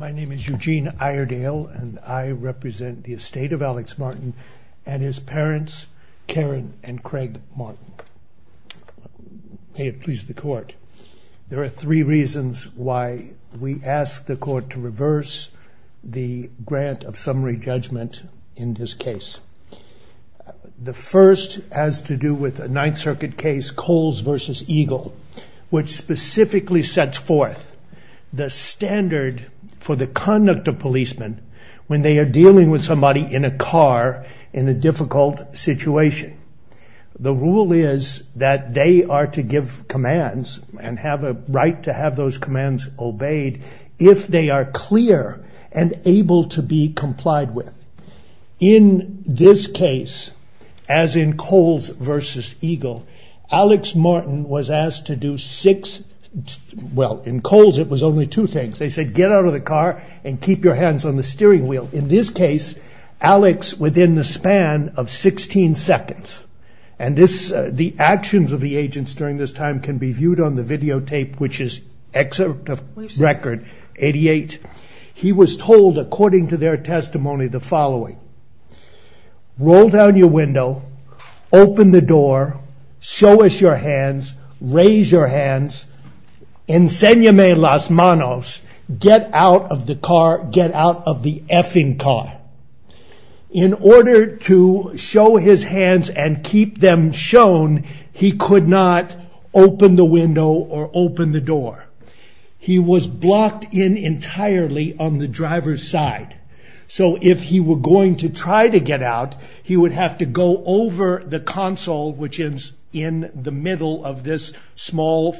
My name is Eugene Iredale and I represent the Estate of Alex Martin and his parents Karen and Craig Martin. May it please the court, there are three reasons why we ask the court to reverse the grant of summary judgment in this case. The first has to do with a Ninth Circuit case Coles v. Eagle which specifically sets forth the standard for the conduct of policemen when they are dealing with somebody in a car in a difficult situation. The rule is that they are to give commands and have a right to have those commands obeyed if they are clear and able to be complied with. In this case as in Coles v. Eagle Alex Martin was asked to do six, well in Coles it was only two things, they said get out of the car and keep your hands on the steering wheel. In this case Alex within the span of 16 seconds and this the actions of the agents during this time can be viewed on the videotape which is excerpt of record 88. He was told according to their testimony the following, roll down your window, open the window, show us your hands, raise your hands, get out of the car, get out of the effing car. In order to show his hands and keep them shown he could not open the window or open the door. He was blocked in entirely on the driver's side so if he were going to try to get out he would have to go over the console which in the middle of this small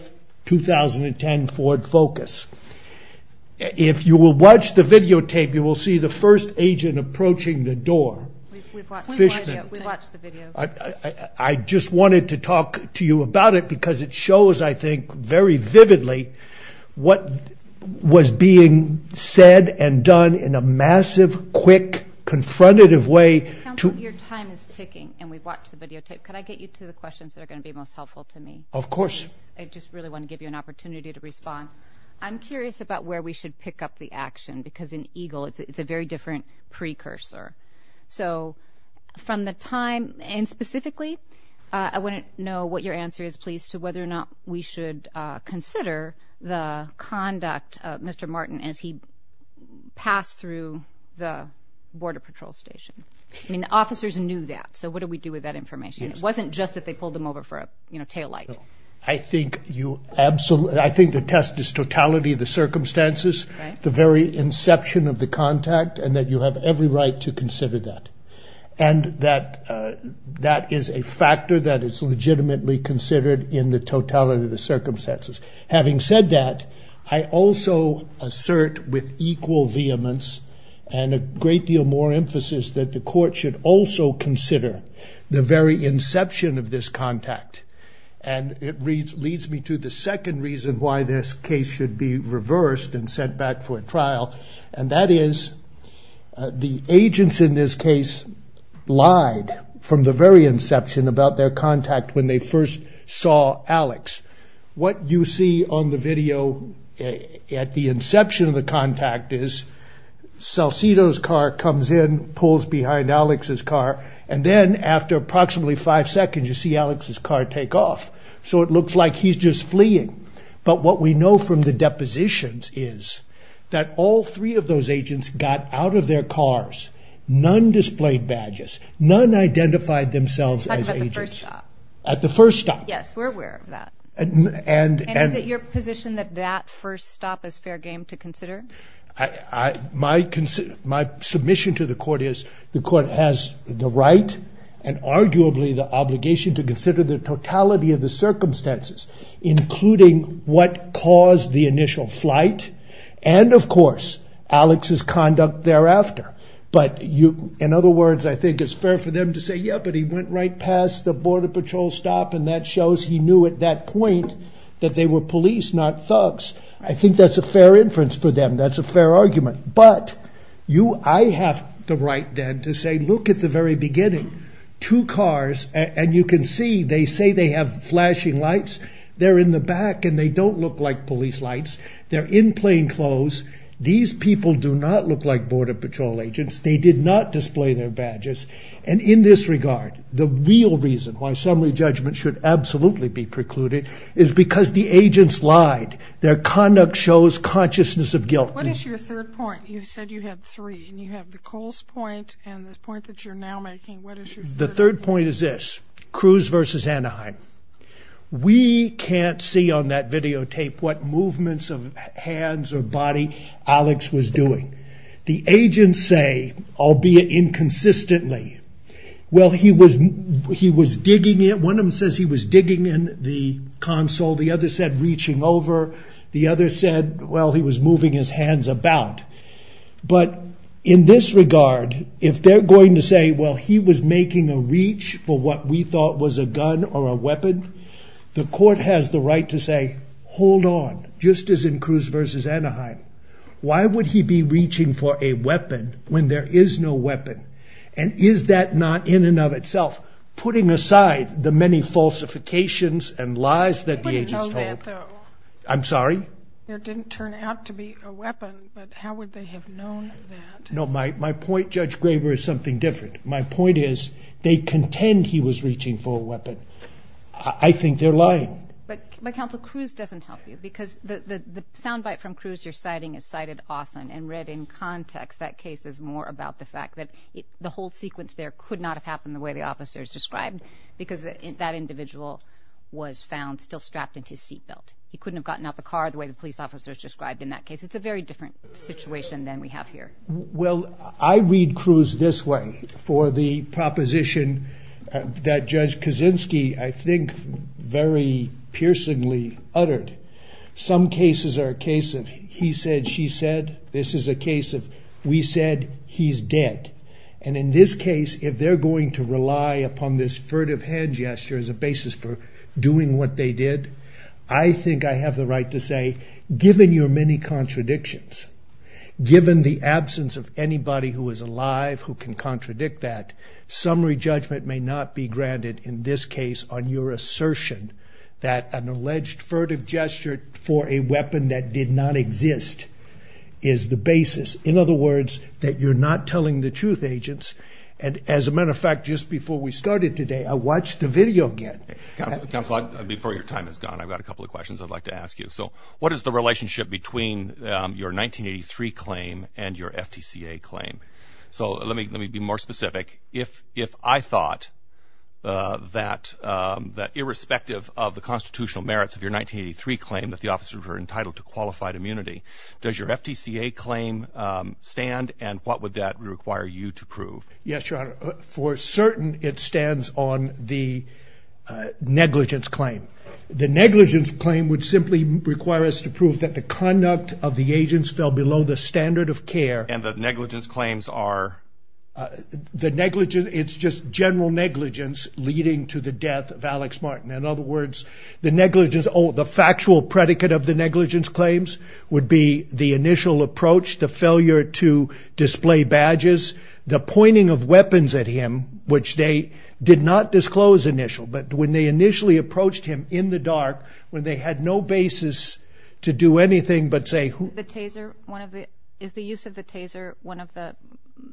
2010 Ford Focus. If you will watch the videotape you will see the first agent approaching the door. I just wanted to talk to you about it because it shows I think very vividly what was being said and done in a massive, quick, confrontative way. Your time is ticking and we've watched the videotape. Can I get you to the questions that are going to be most helpful to me? Of course. I just really want to give you an opportunity to respond. I'm curious about where we should pick up the action because in EGLE it's a very different precursor. So from the time and specifically I wouldn't know what your answer is please to whether or not we should consider the conduct of Mr. Martin as he passed through the border patrol station. I mean the officers knew that so what do we do with that information? It wasn't just that they pulled him over for a tail light. I think the test is totality of the circumstances, the very inception of the contact and that you have every right to consider that. And that is a factor that is legitimately considered in the totality of the circumstances. Having said that I also assert with equal vehemence and a great deal more emphasis that the court should also consider the very inception of this contact and it leads me to the second reason why this case should be reversed and sent back for trial and that is the agents in this case lied from the very inception about their contact when they first saw Alex. What you see on the video at the inception of the contact is Salcido's car comes in pulls behind Alex's car and then after approximately five seconds you see Alex's car take off so it looks like he's just fleeing but what we know from the depositions is that all three of those agents got out of their cars, none displayed badges, none identified themselves as agents at the first stop. Yes, we're aware of that. And is it your position that that first stop is fair game to consider? My submission to the court is the court has the right and arguably the obligation to consider the totality of the circumstances including what caused the initial flight and of course Alex's conduct thereafter but in other words I think it's fair for them to say yeah but he went right past the border patrol stop and that shows he knew at that point that they were police not thugs. I think that's a fair inference for them to make. That's a fair argument but I have the right then to say look at the very beginning, two cars and you can see they say they have flashing lights, they're in the back and they don't look like police lights, they're in plain clothes, these people do not look like border patrol agents, they did not display their badges and in this regard the real reason why assembly judgment should absolutely be precluded is because the agents lied, their conduct shows consciousness of guilt. What is your third point? You said you had three and you have the Coles point and the point that you're now making. The third point is this, Cruz versus Anaheim. We can't see on that videotape what movements of hands or body Alex was doing. The agents say, albeit inconsistently, well he was digging in, one of them says he was digging in the console, the other said reaching over, the other said well he was moving his hands about but in this regard if they're going to say well he was making a reach for what we thought was a gun or a weapon, the court has the right to say hold on, just as in Cruz versus Anaheim. Why would he be reaching for a weapon when there is no weapon? And is that not in and of itself putting aside the many falsifications and lies that the agents told? I'm sorry? There didn't turn out to be a weapon but how would they have known that? No, my point, Judge Graber, is something different. My point is they contend he was reaching for a weapon. I think they're lying. But Counsel, Cruz doesn't help you because the sound bite from Cruz you're citing is cited often and read in context. That case is more about the fact that the whole sequence there could not have happened the way the officers described because that individual was found still strapped into his seat belt. He couldn't have gotten out the car the way the police officers described in that case. It's a very different situation than we have here. Well, I read Cruz this way for the proposition that Judge Kaczynski I think very piercingly uttered. Some cases are a case of he said, she said. This is a case of we said, he's dead. And in this case if they're going to rely upon this furtive hand gesture as a basis for doing what they did, I think I have the right to say given your many contradictions, given the absence of anybody who is alive who can contradict that, summary judgment may not be granted in this case on your assertion that an alleged furtive gesture for a weapon that did not exist is the basis. In other words, that you're not telling the truth agents. And as a matter of fact, just before we started today, I watched the video again before your time is gone. I've got a couple of questions I'd like to ask you. So what is the relationship between your 1983 claim and your FTCA claim? So let me let me be more specific. If if I thought that that irrespective of the constitutional merits of your 1983 claim that the officers were entitled to qualified immunity, does your FTCA claim stand? And what would that require you to prove? Yes, your honor. For certain it stands on the negligence claim. The negligence claim would simply require us to prove that the conduct of the agents fell below the standard of care and the negligence claim. The negligence claims are the negligence. It's just general negligence leading to the death of Alex Martin. In other words, the negligence or the factual predicate of the negligence claims would be the initial approach, the failure to display badges, the pointing of weapons at him, which they did not disclose initial. But when they initially approached him in the dark, when they had no basis to do anything but say the taser, one of the is the use of the taser. One of the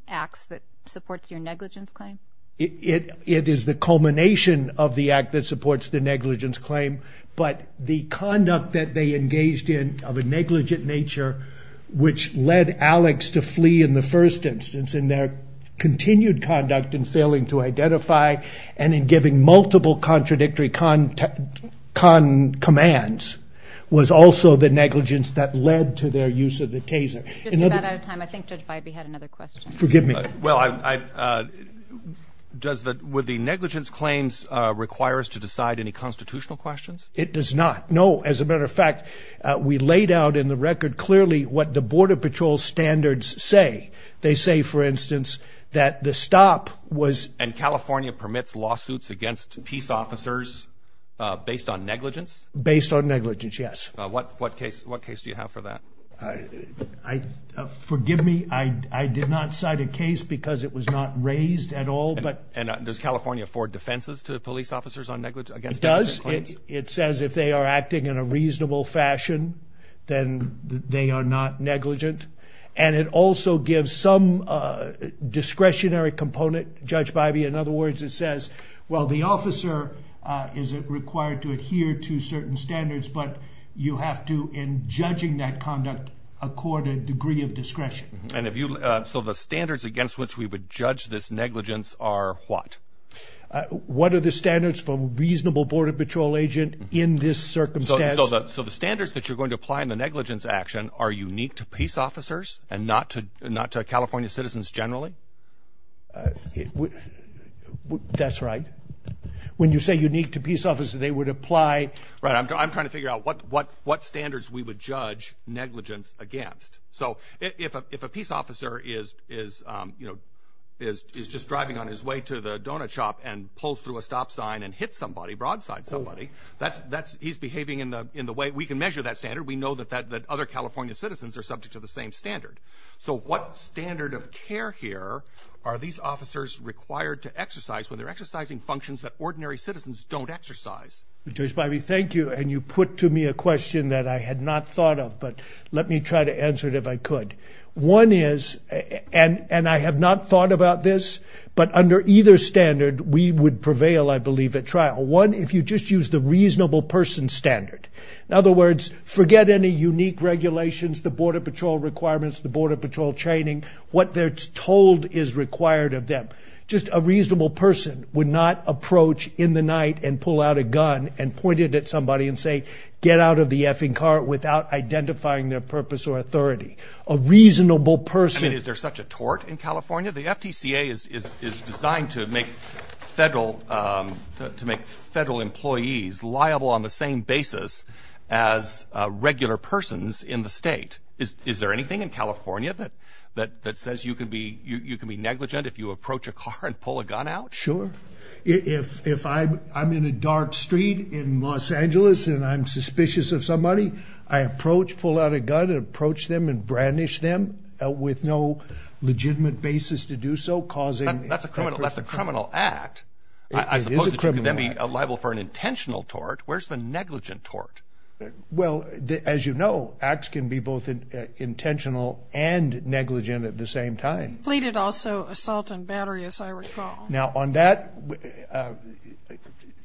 acts that supports your negligence claim. It is the culmination of the act that supports the negligence claim. But the conduct that they engaged in of a negligent nature, which led Alex to flee in the first instance in their continued conduct and failing to identify and in giving multiple contradictory con commands was also the negligence that led to their use of the taser. I think Judge Bybee had another question. Forgive me. Well, would the negligence claims require us to decide any constitutional questions? It does not. No. As a matter of fact, we laid out in the record clearly what the Border Patrol standards say. They say, for instance, that the stop was... And California permits lawsuits against peace officers based on negligence? Based on negligence, yes. What case do you have for that? Forgive me. I did not cite a case because it was not raised at all. And does California afford defenses to police officers on negligence? It does. It says if they are acting in a reasonable fashion, then they are not negligent. And it also gives some discretionary component, Judge Bybee. In other words, it says, well, the officer is required to adhere to certain standards, but you have to, in judging that conduct, accord a degree of discretion. So the standards against which we would judge this negligence are what? What are the standards for a reasonable Border Patrol agent in this circumstance? So the standards that you're going to apply in the negligence action are unique to peace officers and not to California citizens generally? That's right. When you say unique to peace officers, they would apply... Right. I'm trying to figure out what standards we would judge negligence against. So if a peace officer is just driving on his way to the donut shop and pulls through a stop sign and hits somebody, broadside somebody, he's behaving in the way... We can measure that standard. We know that other California citizens are subject to the same standard. So what standard of care here are these officers required to exercise when they're exercising functions that ordinary citizens don't exercise? Judge Bybee, thank you. And you put to me a question that I had not thought of, but let me try to answer it if I could. One is, and I have not thought about this, but under either standard, we would prevail, I believe, at trial. One, if you just use the reasonable person standard. In other words, forget any unique regulations, the Border Patrol requirements, the Border Patrol training, what they're told is required of them. Just a reasonable person would not approach in the night and pull out a gun and point it at somebody and say, get out of the effing car without identifying their purpose or authority. A reasonable person... In California, the FTCA is designed to make federal employees liable on the same basis as regular persons in the state. Is there anything in California that says you can be negligent if you approach a car and pull a gun out? With no legitimate basis to do so, causing... That's a criminal act. I suppose that you could then be liable for an intentional tort. Where's the negligent tort? Well, as you know, acts can be both intentional and negligent at the same time. Pleaded also assault and battery, as I recall. Now on that,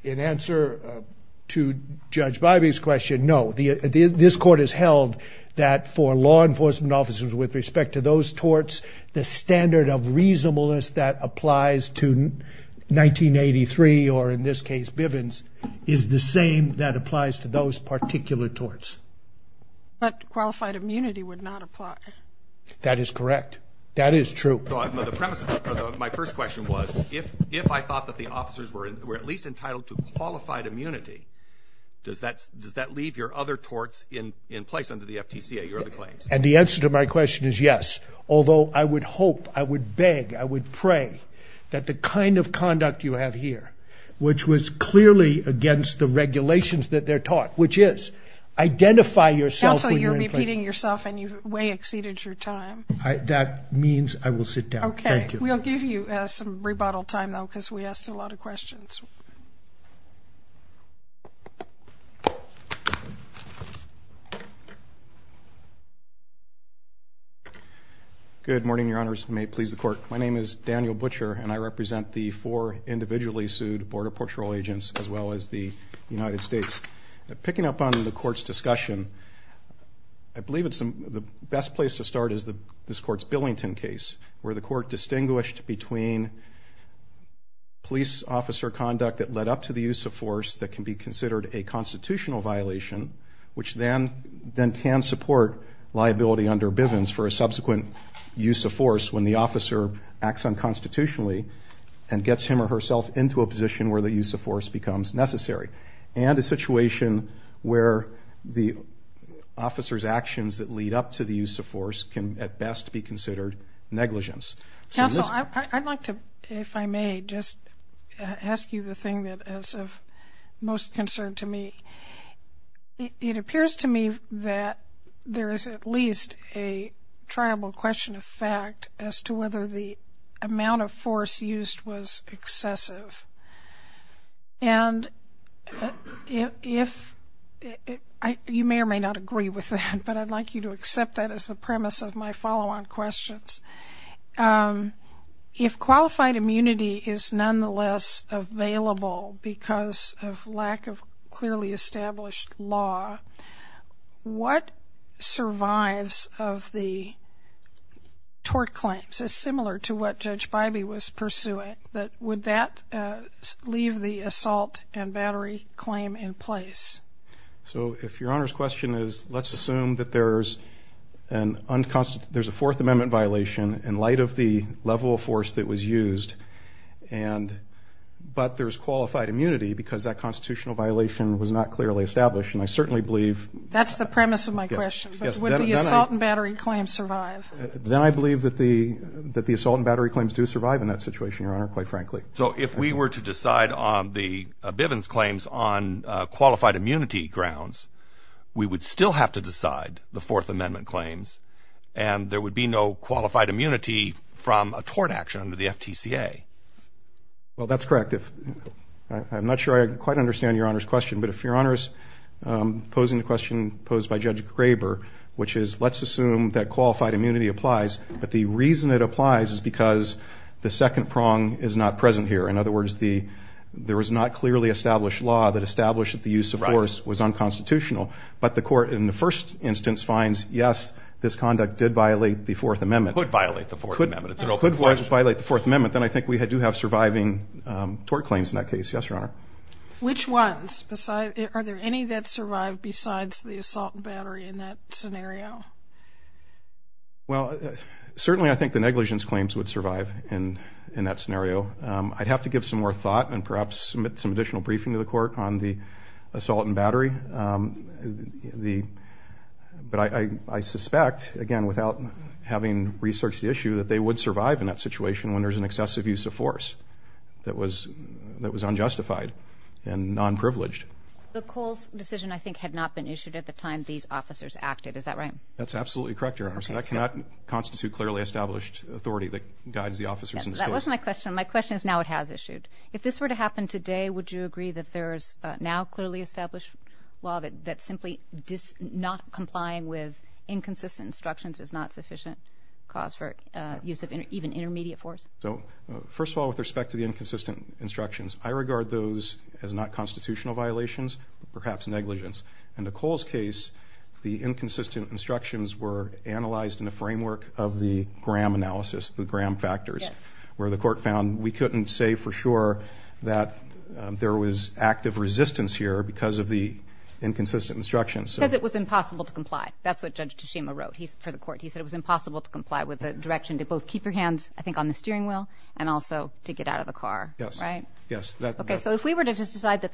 in answer to Judge Bivey's question, no. This court has held that for law enforcement officers with respect to those torts, the standard of reasonableness that applies to 1983, or in this case, Bivens, is the same that applies to those particular torts. But qualified immunity would not apply. That is correct. That is true. My first question was, if I thought that the officers were at least entitled to qualified immunity, does that leave your other torts in place under the FTCA, your other claims? And the answer to my question is yes. Although I would hope, I would beg, I would pray that the kind of conduct you have here, which was clearly against the regulations that they're taught, which is identify yourself... Counsel, you're repeating yourself and you've way exceeded your time. That means I will sit down. Thank you. Okay. We'll give you some rebuttal time, though, because we asked a lot of questions. Good morning, Your Honors. May it please the Court. My name is Daniel Butcher, and I represent the four individually sued Border Patrol agents, as well as the United States. Picking up on the Court's discussion, I believe the best place to start is this Court's Billington case, where the Court distinguished between police officer conduct that led up to the use of force that can be considered a constitutional violation, which then can support liability under Bivens for a subsequent use of force when the officer acts unconstitutionally and gets him or herself into a position where the use of force becomes necessary. And a situation where the officer's actions that lead up to the use of force can, at best, be considered negligence. Counsel, I'd like to, if I may, just ask you the thing that is of most concern to me. It appears to me that there is at least a triable question of fact as to whether the amount of force used was excessive. And if, you may or may not agree with that, but I'd like you to accept that as the premise of my follow-on questions. If qualified immunity is nonetheless available because of lack of clearly established law, what survives of the tort claims is similar to what Judge Bybee was pursuing, but would that leave the assault and battery claim in place? So if your Honor's question is, let's assume that there's a Fourth Amendment violation in light of the level of force that was used, but there's qualified immunity because that constitutional violation was not clearly established, then I believe that the assault and battery claims do survive in that situation, Your Honor, quite frankly. So if we were to decide on the Bivens claims on qualified immunity grounds, we would still have to decide the Fourth Amendment claims, and there would be no qualified immunity from a tort action under the FTCA? Well, that's correct. I'm not sure I quite understand Your Honor's question, but if Your Honor's posing the question posed by Judge Graber, which is, let's assume that qualified immunity applies, but the reason it applies is because the second prong is not present here. In other words, there was not clearly established law that established that the use of force was unconstitutional, but the court in the first instance finds, yes, this conduct did violate the Fourth Amendment. Could violate the Fourth Amendment. Could violate the Fourth Amendment. Then I think we do have surviving tort claims in that case. Yes, Your Honor. Which ones? Are there any that survive besides the assault and battery in that scenario? Well, certainly I think the negligence claims would survive in that scenario. I'd have to give some more thought and perhaps submit some additional briefing to the court on the assault and battery. But I suspect, again, without having researched the issue, that they would survive in that situation when there's an excessive use of force that was unjustified. And non-privileged. The Coles decision, I think, had not been issued at the time these officers acted. Is that right? That's absolutely correct, Your Honor. So that cannot constitute clearly established authority that guides the officers in this case. That was my question. My question is now it has issued. If this were to happen today, would you agree that there is now clearly established law that simply not complying with inconsistent instructions is not sufficient cause for use of even intermediate force? So, first of all, with respect to the inconsistent instructions, I regard those as not constitutional violations, perhaps negligence. In the Coles case, the inconsistent instructions were analyzed in the framework of the Graham analysis, the Graham factors, where the court found we couldn't say for sure that there was active resistance here because of the inconsistent instructions. Because it was impossible to comply. That's what Judge Teshima wrote for the court. He said it was impossible to comply with the direction to both keep your hands, I think, on the steering wheel and also to get out of the car. Yes. Right? Yes. Okay, so if we were to just decide that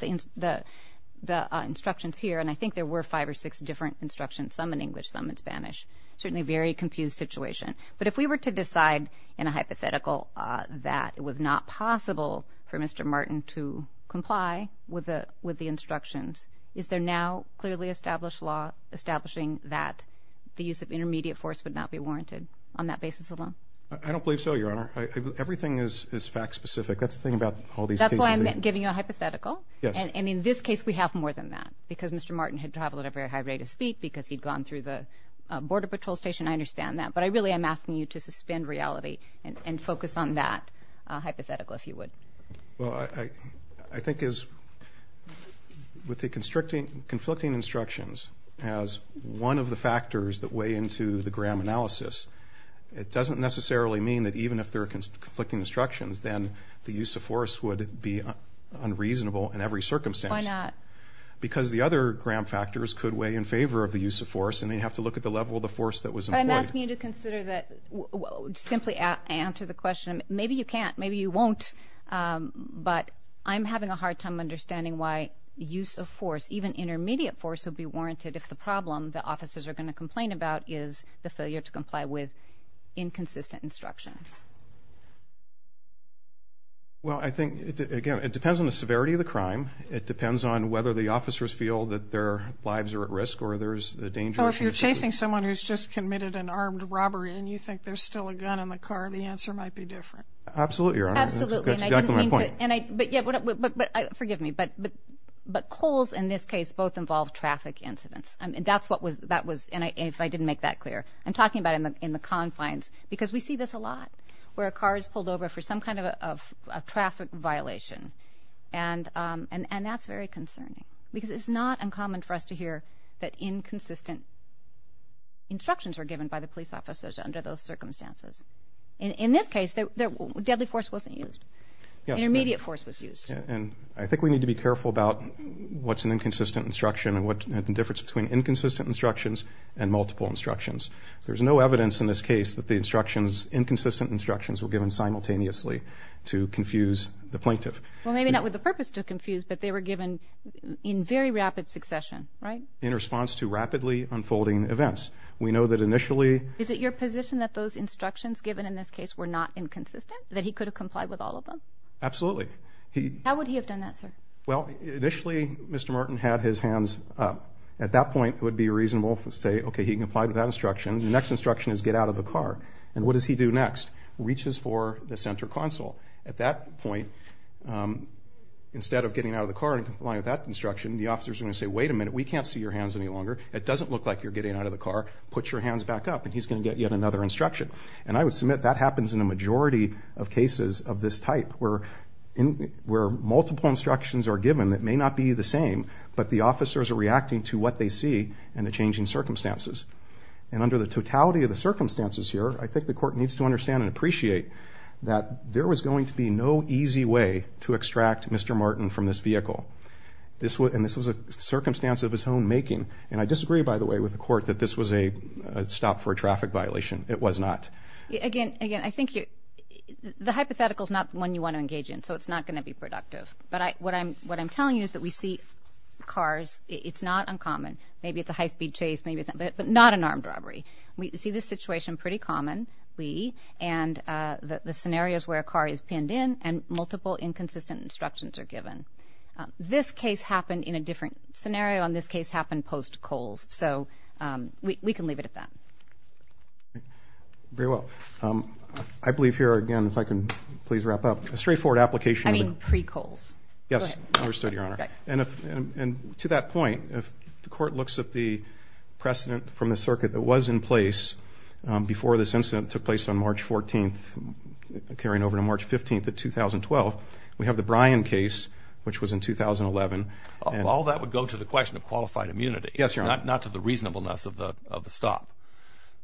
the instructions here, and I think there were five or six different instructions, some in English, some in Spanish, certainly a very confused situation. But if we were to decide in a hypothetical that it was not possible for Mr. Martin to comply with the instructions, is there now clearly established law establishing that the use of intermediate force would not be warranted on that basis alone? I don't believe so, Your Honor. Everything is fact-specific. That's the thing about all these cases. That's why I'm giving you a hypothetical. Yes. And in this case, we have more than that because Mr. Martin had traveled at a very high rate of speed because he'd gone through the border patrol station. I understand that. But I really am asking you to suspend reality and focus on that hypothetical, if you would. Well, I think with the conflicting instructions as one of the factors that weigh into the Graham analysis, it doesn't necessarily mean that even if there are conflicting instructions, then the use of force would be unreasonable in every circumstance. Why not? Because the other Graham factors could weigh in favor of the use of force, and they'd have to look at the level of the force that was employed. But I'm asking you to consider that, simply answer the question. Maybe you can't. Maybe you won't. But I'm having a hard time understanding why use of force, even intermediate force, would be warranted if the problem the officers are going to complain about is the failure to comply with inconsistent instructions. Well, I think, again, it depends on the severity of the crime. It depends on whether the officers feel that their lives are at risk or there's a danger. Or if you're chasing someone who's just committed an armed robbery and you think there's still a gun in the car, the answer might be different. Absolutely, Your Honor. That's exactly my point. Forgive me, but coals in this case both involve traffic incidents. That's what was, if I didn't make that clear. I'm talking about in the confines because we see this a lot where a car is pulled over for some kind of a traffic violation, and that's very concerning because it's not uncommon for us to hear that inconsistent instructions were given by the police officers under those circumstances. In this case, deadly force wasn't used. Intermediate force was used. I think we need to be careful about what's an inconsistent instruction and the difference between inconsistent instructions and multiple instructions. There's no evidence in this case that the instructions, inconsistent instructions, were given simultaneously to confuse the plaintiff. Well, maybe not with the purpose to confuse, but they were given in very rapid succession, right? In response to rapidly unfolding events. We know that initially... Is it your position that those instructions given in this case were not inconsistent, that he could have complied with all of them? Absolutely. How would he have done that, sir? Well, initially, Mr. Martin had his hands up. At that point, it would be reasonable to say, okay, he complied with that instruction. The next instruction is get out of the car. And what does he do next? Reaches for the center console. At that point, instead of getting out of the car and complying with that instruction, the officer is going to say, wait a minute, we can't see your hands any longer. It doesn't look like you're getting out of the car. Put your hands back up, and he's going to get yet another instruction. And I would submit that happens in a majority of cases of this type, where multiple instructions are given that may not be the same, but the officers are reacting to what they see and the changing circumstances. And under the totality of the circumstances here, I think the court needs to understand and appreciate that there was going to be no easy way to extract Mr. Martin from this vehicle. And this was a circumstance of his own making. And I disagree, by the way, with the court that this was a stop for a traffic violation. It was not. Again, I think the hypothetical is not one you want to engage in, so it's not going to be productive. But what I'm telling you is that we see cars. It's not uncommon. Maybe it's a high-speed chase, but not an armed robbery. We see this situation pretty commonly, and the scenarios where a car is pinned in and multiple inconsistent instructions are given. This case happened in a different scenario, and this case happened post Coles. So we can leave it at that. Very well. I believe here, again, if I can please wrap up. A straightforward application. I mean pre-Coles. Yes. I understood, Your Honor. And to that point, if the court looks at the precedent from the circuit that was in place before this incident took place on March 14th, carrying over to March 15th of 2012, we have the Bryan case, which was in 2011. All that would go to the question of qualified immunity. Yes, Your Honor. Not to the reasonableness of the stop.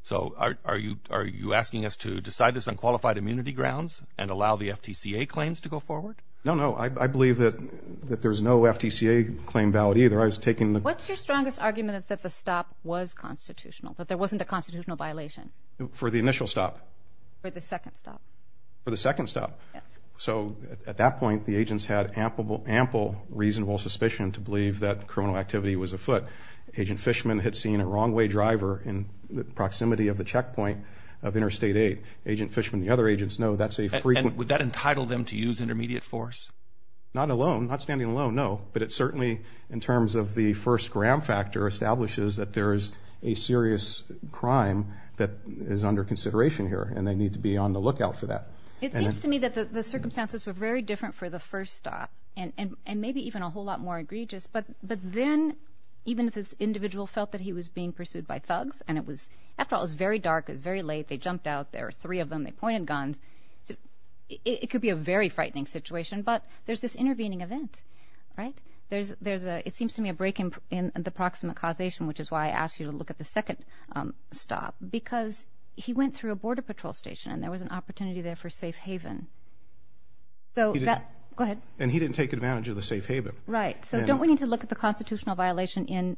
So are you asking us to decide this on qualified immunity grounds and allow the FTCA claims to go forward? No, no. I believe that there's no FTCA claim valid either. What's your strongest argument that the stop was constitutional, that there wasn't a constitutional violation? For the initial stop. For the second stop. For the second stop. Yes. So at that point, the agents had ample reasonable suspicion to believe that criminal activity was afoot. Agent Fishman had seen a wrong-way driver in the proximity of the checkpoint of Interstate 8. Agent Fishman and the other agents know that's a frequent. And would that entitle them to use intermediate force? Not alone. Not standing alone, no. But it certainly, in terms of the first gram factor, establishes that there is a serious crime that is under consideration here, and they need to be on the lookout for that. It seems to me that the circumstances were very different for the first stop and maybe even a whole lot more egregious. But then, even if this individual felt that he was being pursued by thugs, and it was, after all, it was very dark, it was very late, they jumped out, there were three of them, they pointed guns, it could be a very frightening situation, but there's this intervening event, right? There's a, it seems to me, a break in the proximate causation, which is why I asked you to look at the second stop, because he went through a border patrol station, and there was an opportunity there for safe haven. Go ahead. And he didn't take advantage of the safe haven. Right. So don't we need to look at the constitutional violation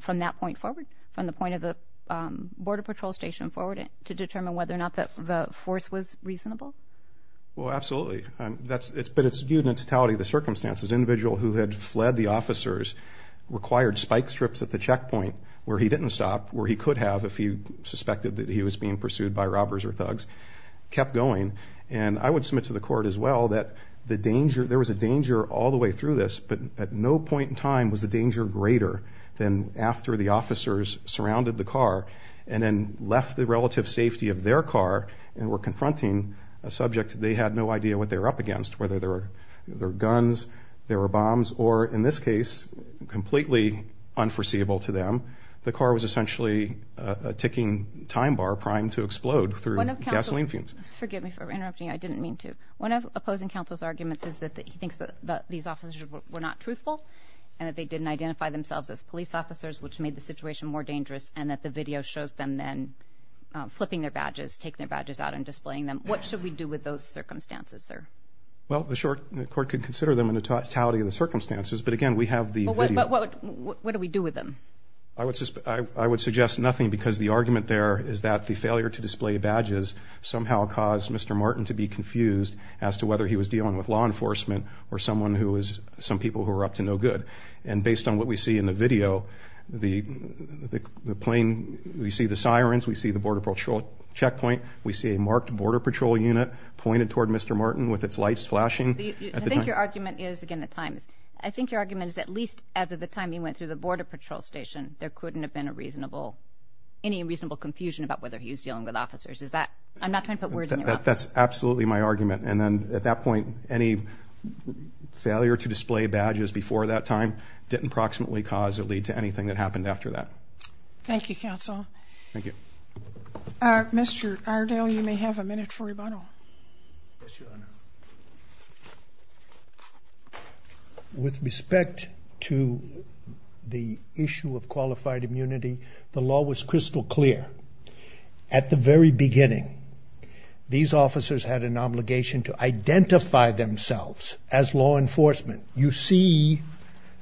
from that point forward, from the point of the border patrol station forward, to determine whether or not the force was reasonable? Well, absolutely. But it's viewed in totality of the circumstances. The individual who had fled the officers required spike strips at the checkpoint, where he didn't stop, where he could have if he suspected that he was being pursued by robbers or thugs, kept going. And I would submit to the court as well that the danger, there was a danger all the way through this, but at no point in time was the danger greater than after the officers surrounded the car and then left the relative safety of their car and were confronting a subject they had no idea what they were up against, whether they were guns, there were bombs, or, in this case, completely unforeseeable to them. The car was essentially a ticking time bar primed to explode through gasoline fumes. Forgive me for interrupting. I didn't mean to. One of opposing counsel's arguments is that he thinks that these officers were not truthful and that they didn't identify themselves as police officers, which made the situation more dangerous, and that the video shows them then flipping their badges, taking their badges out and displaying them. What should we do with those circumstances, sir? Well, the court could consider them in the totality of the circumstances, but, again, we have the video. What do we do with them? I would suggest nothing because the argument there is that the failure to display badges somehow caused Mr. Martin to be confused as to whether he was dealing with law enforcement or some people who were up to no good. And based on what we see in the video, the plane, we see the sirens, we see the Border Patrol checkpoint, we see a marked Border Patrol unit pointed toward Mr. Martin with its lights flashing. I think your argument is, again, the time. I think your argument is at least as of the time he went through the Border Patrol station, there couldn't have been any reasonable confusion about whether he was dealing with officers. I'm not trying to put words in your mouth. That's absolutely my argument. And then at that point, any failure to display badges before that time didn't proximately cause or lead to anything that happened after that. Thank you, counsel. Thank you. Mr. Ardale, you may have a minute for rebuttal. Yes, Your Honor. With respect to the issue of qualified immunity, the law was crystal clear. At the very beginning, these officers had an obligation to identify themselves as law enforcement. You see,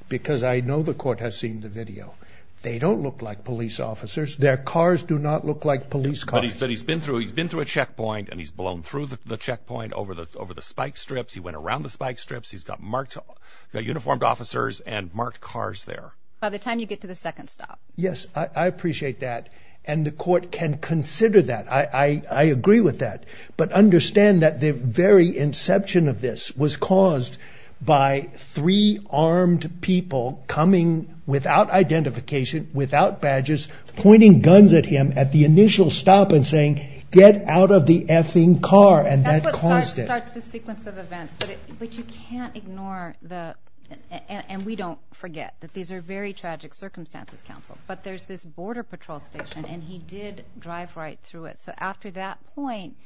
because I know the court has seen the video, they don't look like police officers. Their cars do not look like police cars. But he's been through a checkpoint, and he's blown through the checkpoint over the spike strips. He went around the spike strips. He's got uniformed officers and marked cars there. By the time you get to the second stop. Yes, I appreciate that. And the court can consider that. I agree with that. But understand that the very inception of this was caused by three armed people coming without identification, without badges, pointing guns at him at the initial stop and saying, get out of the effing car, and that caused it. That's what starts the sequence of events. But you can't ignore the, and we don't forget that these are very tragic circumstances, counsel. But there's this border patrol station, and he did drive right through it. So after that point,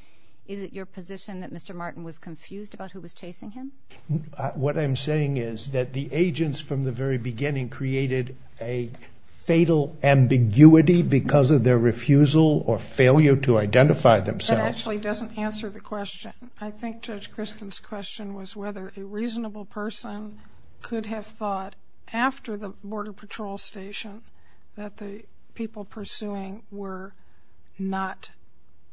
is it your position that Mr. Martin was confused about who was chasing him? What I'm saying is that the agents from the very beginning created a fatal ambiguity because of their refusal or failure to identify themselves. That actually doesn't answer the question. I think Judge Christen's question was whether a reasonable person could have thought after the border patrol station that the people pursuing were not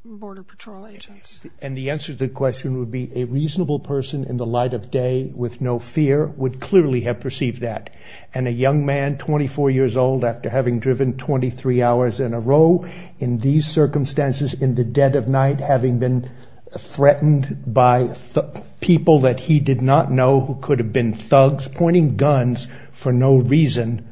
border patrol agents. And the answer to the question would be a reasonable person in the light of day with no fear would clearly have perceived that. And a young man, 24 years old, after having driven 23 hours in a row in these circumstances in the dead of night, having been threatened by people that he did not know who could have been thugs pointing guns for no reason,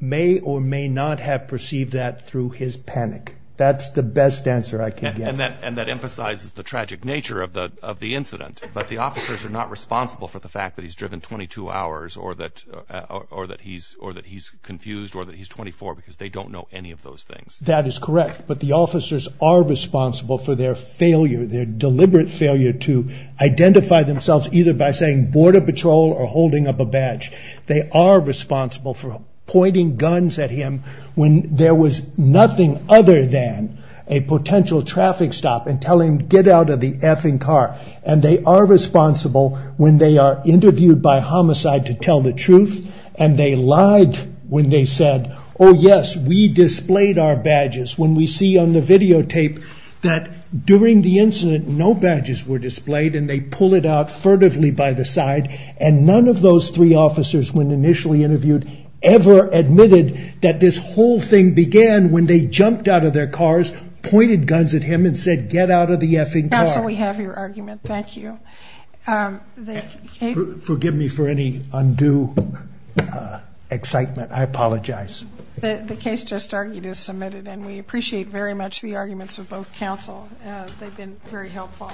may or may not have perceived that through his panic. That's the best answer I can give. And that emphasizes the tragic nature of the incident. But the officers are not responsible for the fact that he's driven 22 hours or that he's confused or that he's 24 because they don't know any of those things. That is correct. But the officers are responsible for their failure, their deliberate failure, to identify themselves either by saying border patrol or holding up a badge. They are responsible for pointing guns at him when there was nothing other than a potential traffic stop and telling him to get out of the effing car. And they are responsible when they are interviewed by homicide to tell the truth and they lied when they said, oh, yes, we displayed our badges. When we see on the videotape that during the incident, no badges were displayed and they pull it out furtively by the side. And none of those three officers, when initially interviewed, ever admitted that this whole thing began when they jumped out of their cars, pointed guns at him and said, get out of the effing car. Counsel, we have your argument. Thank you. Forgive me for any undue excitement. I apologize. The case just argued is submitted, and we appreciate very much the arguments of both counsel. They've been very helpful.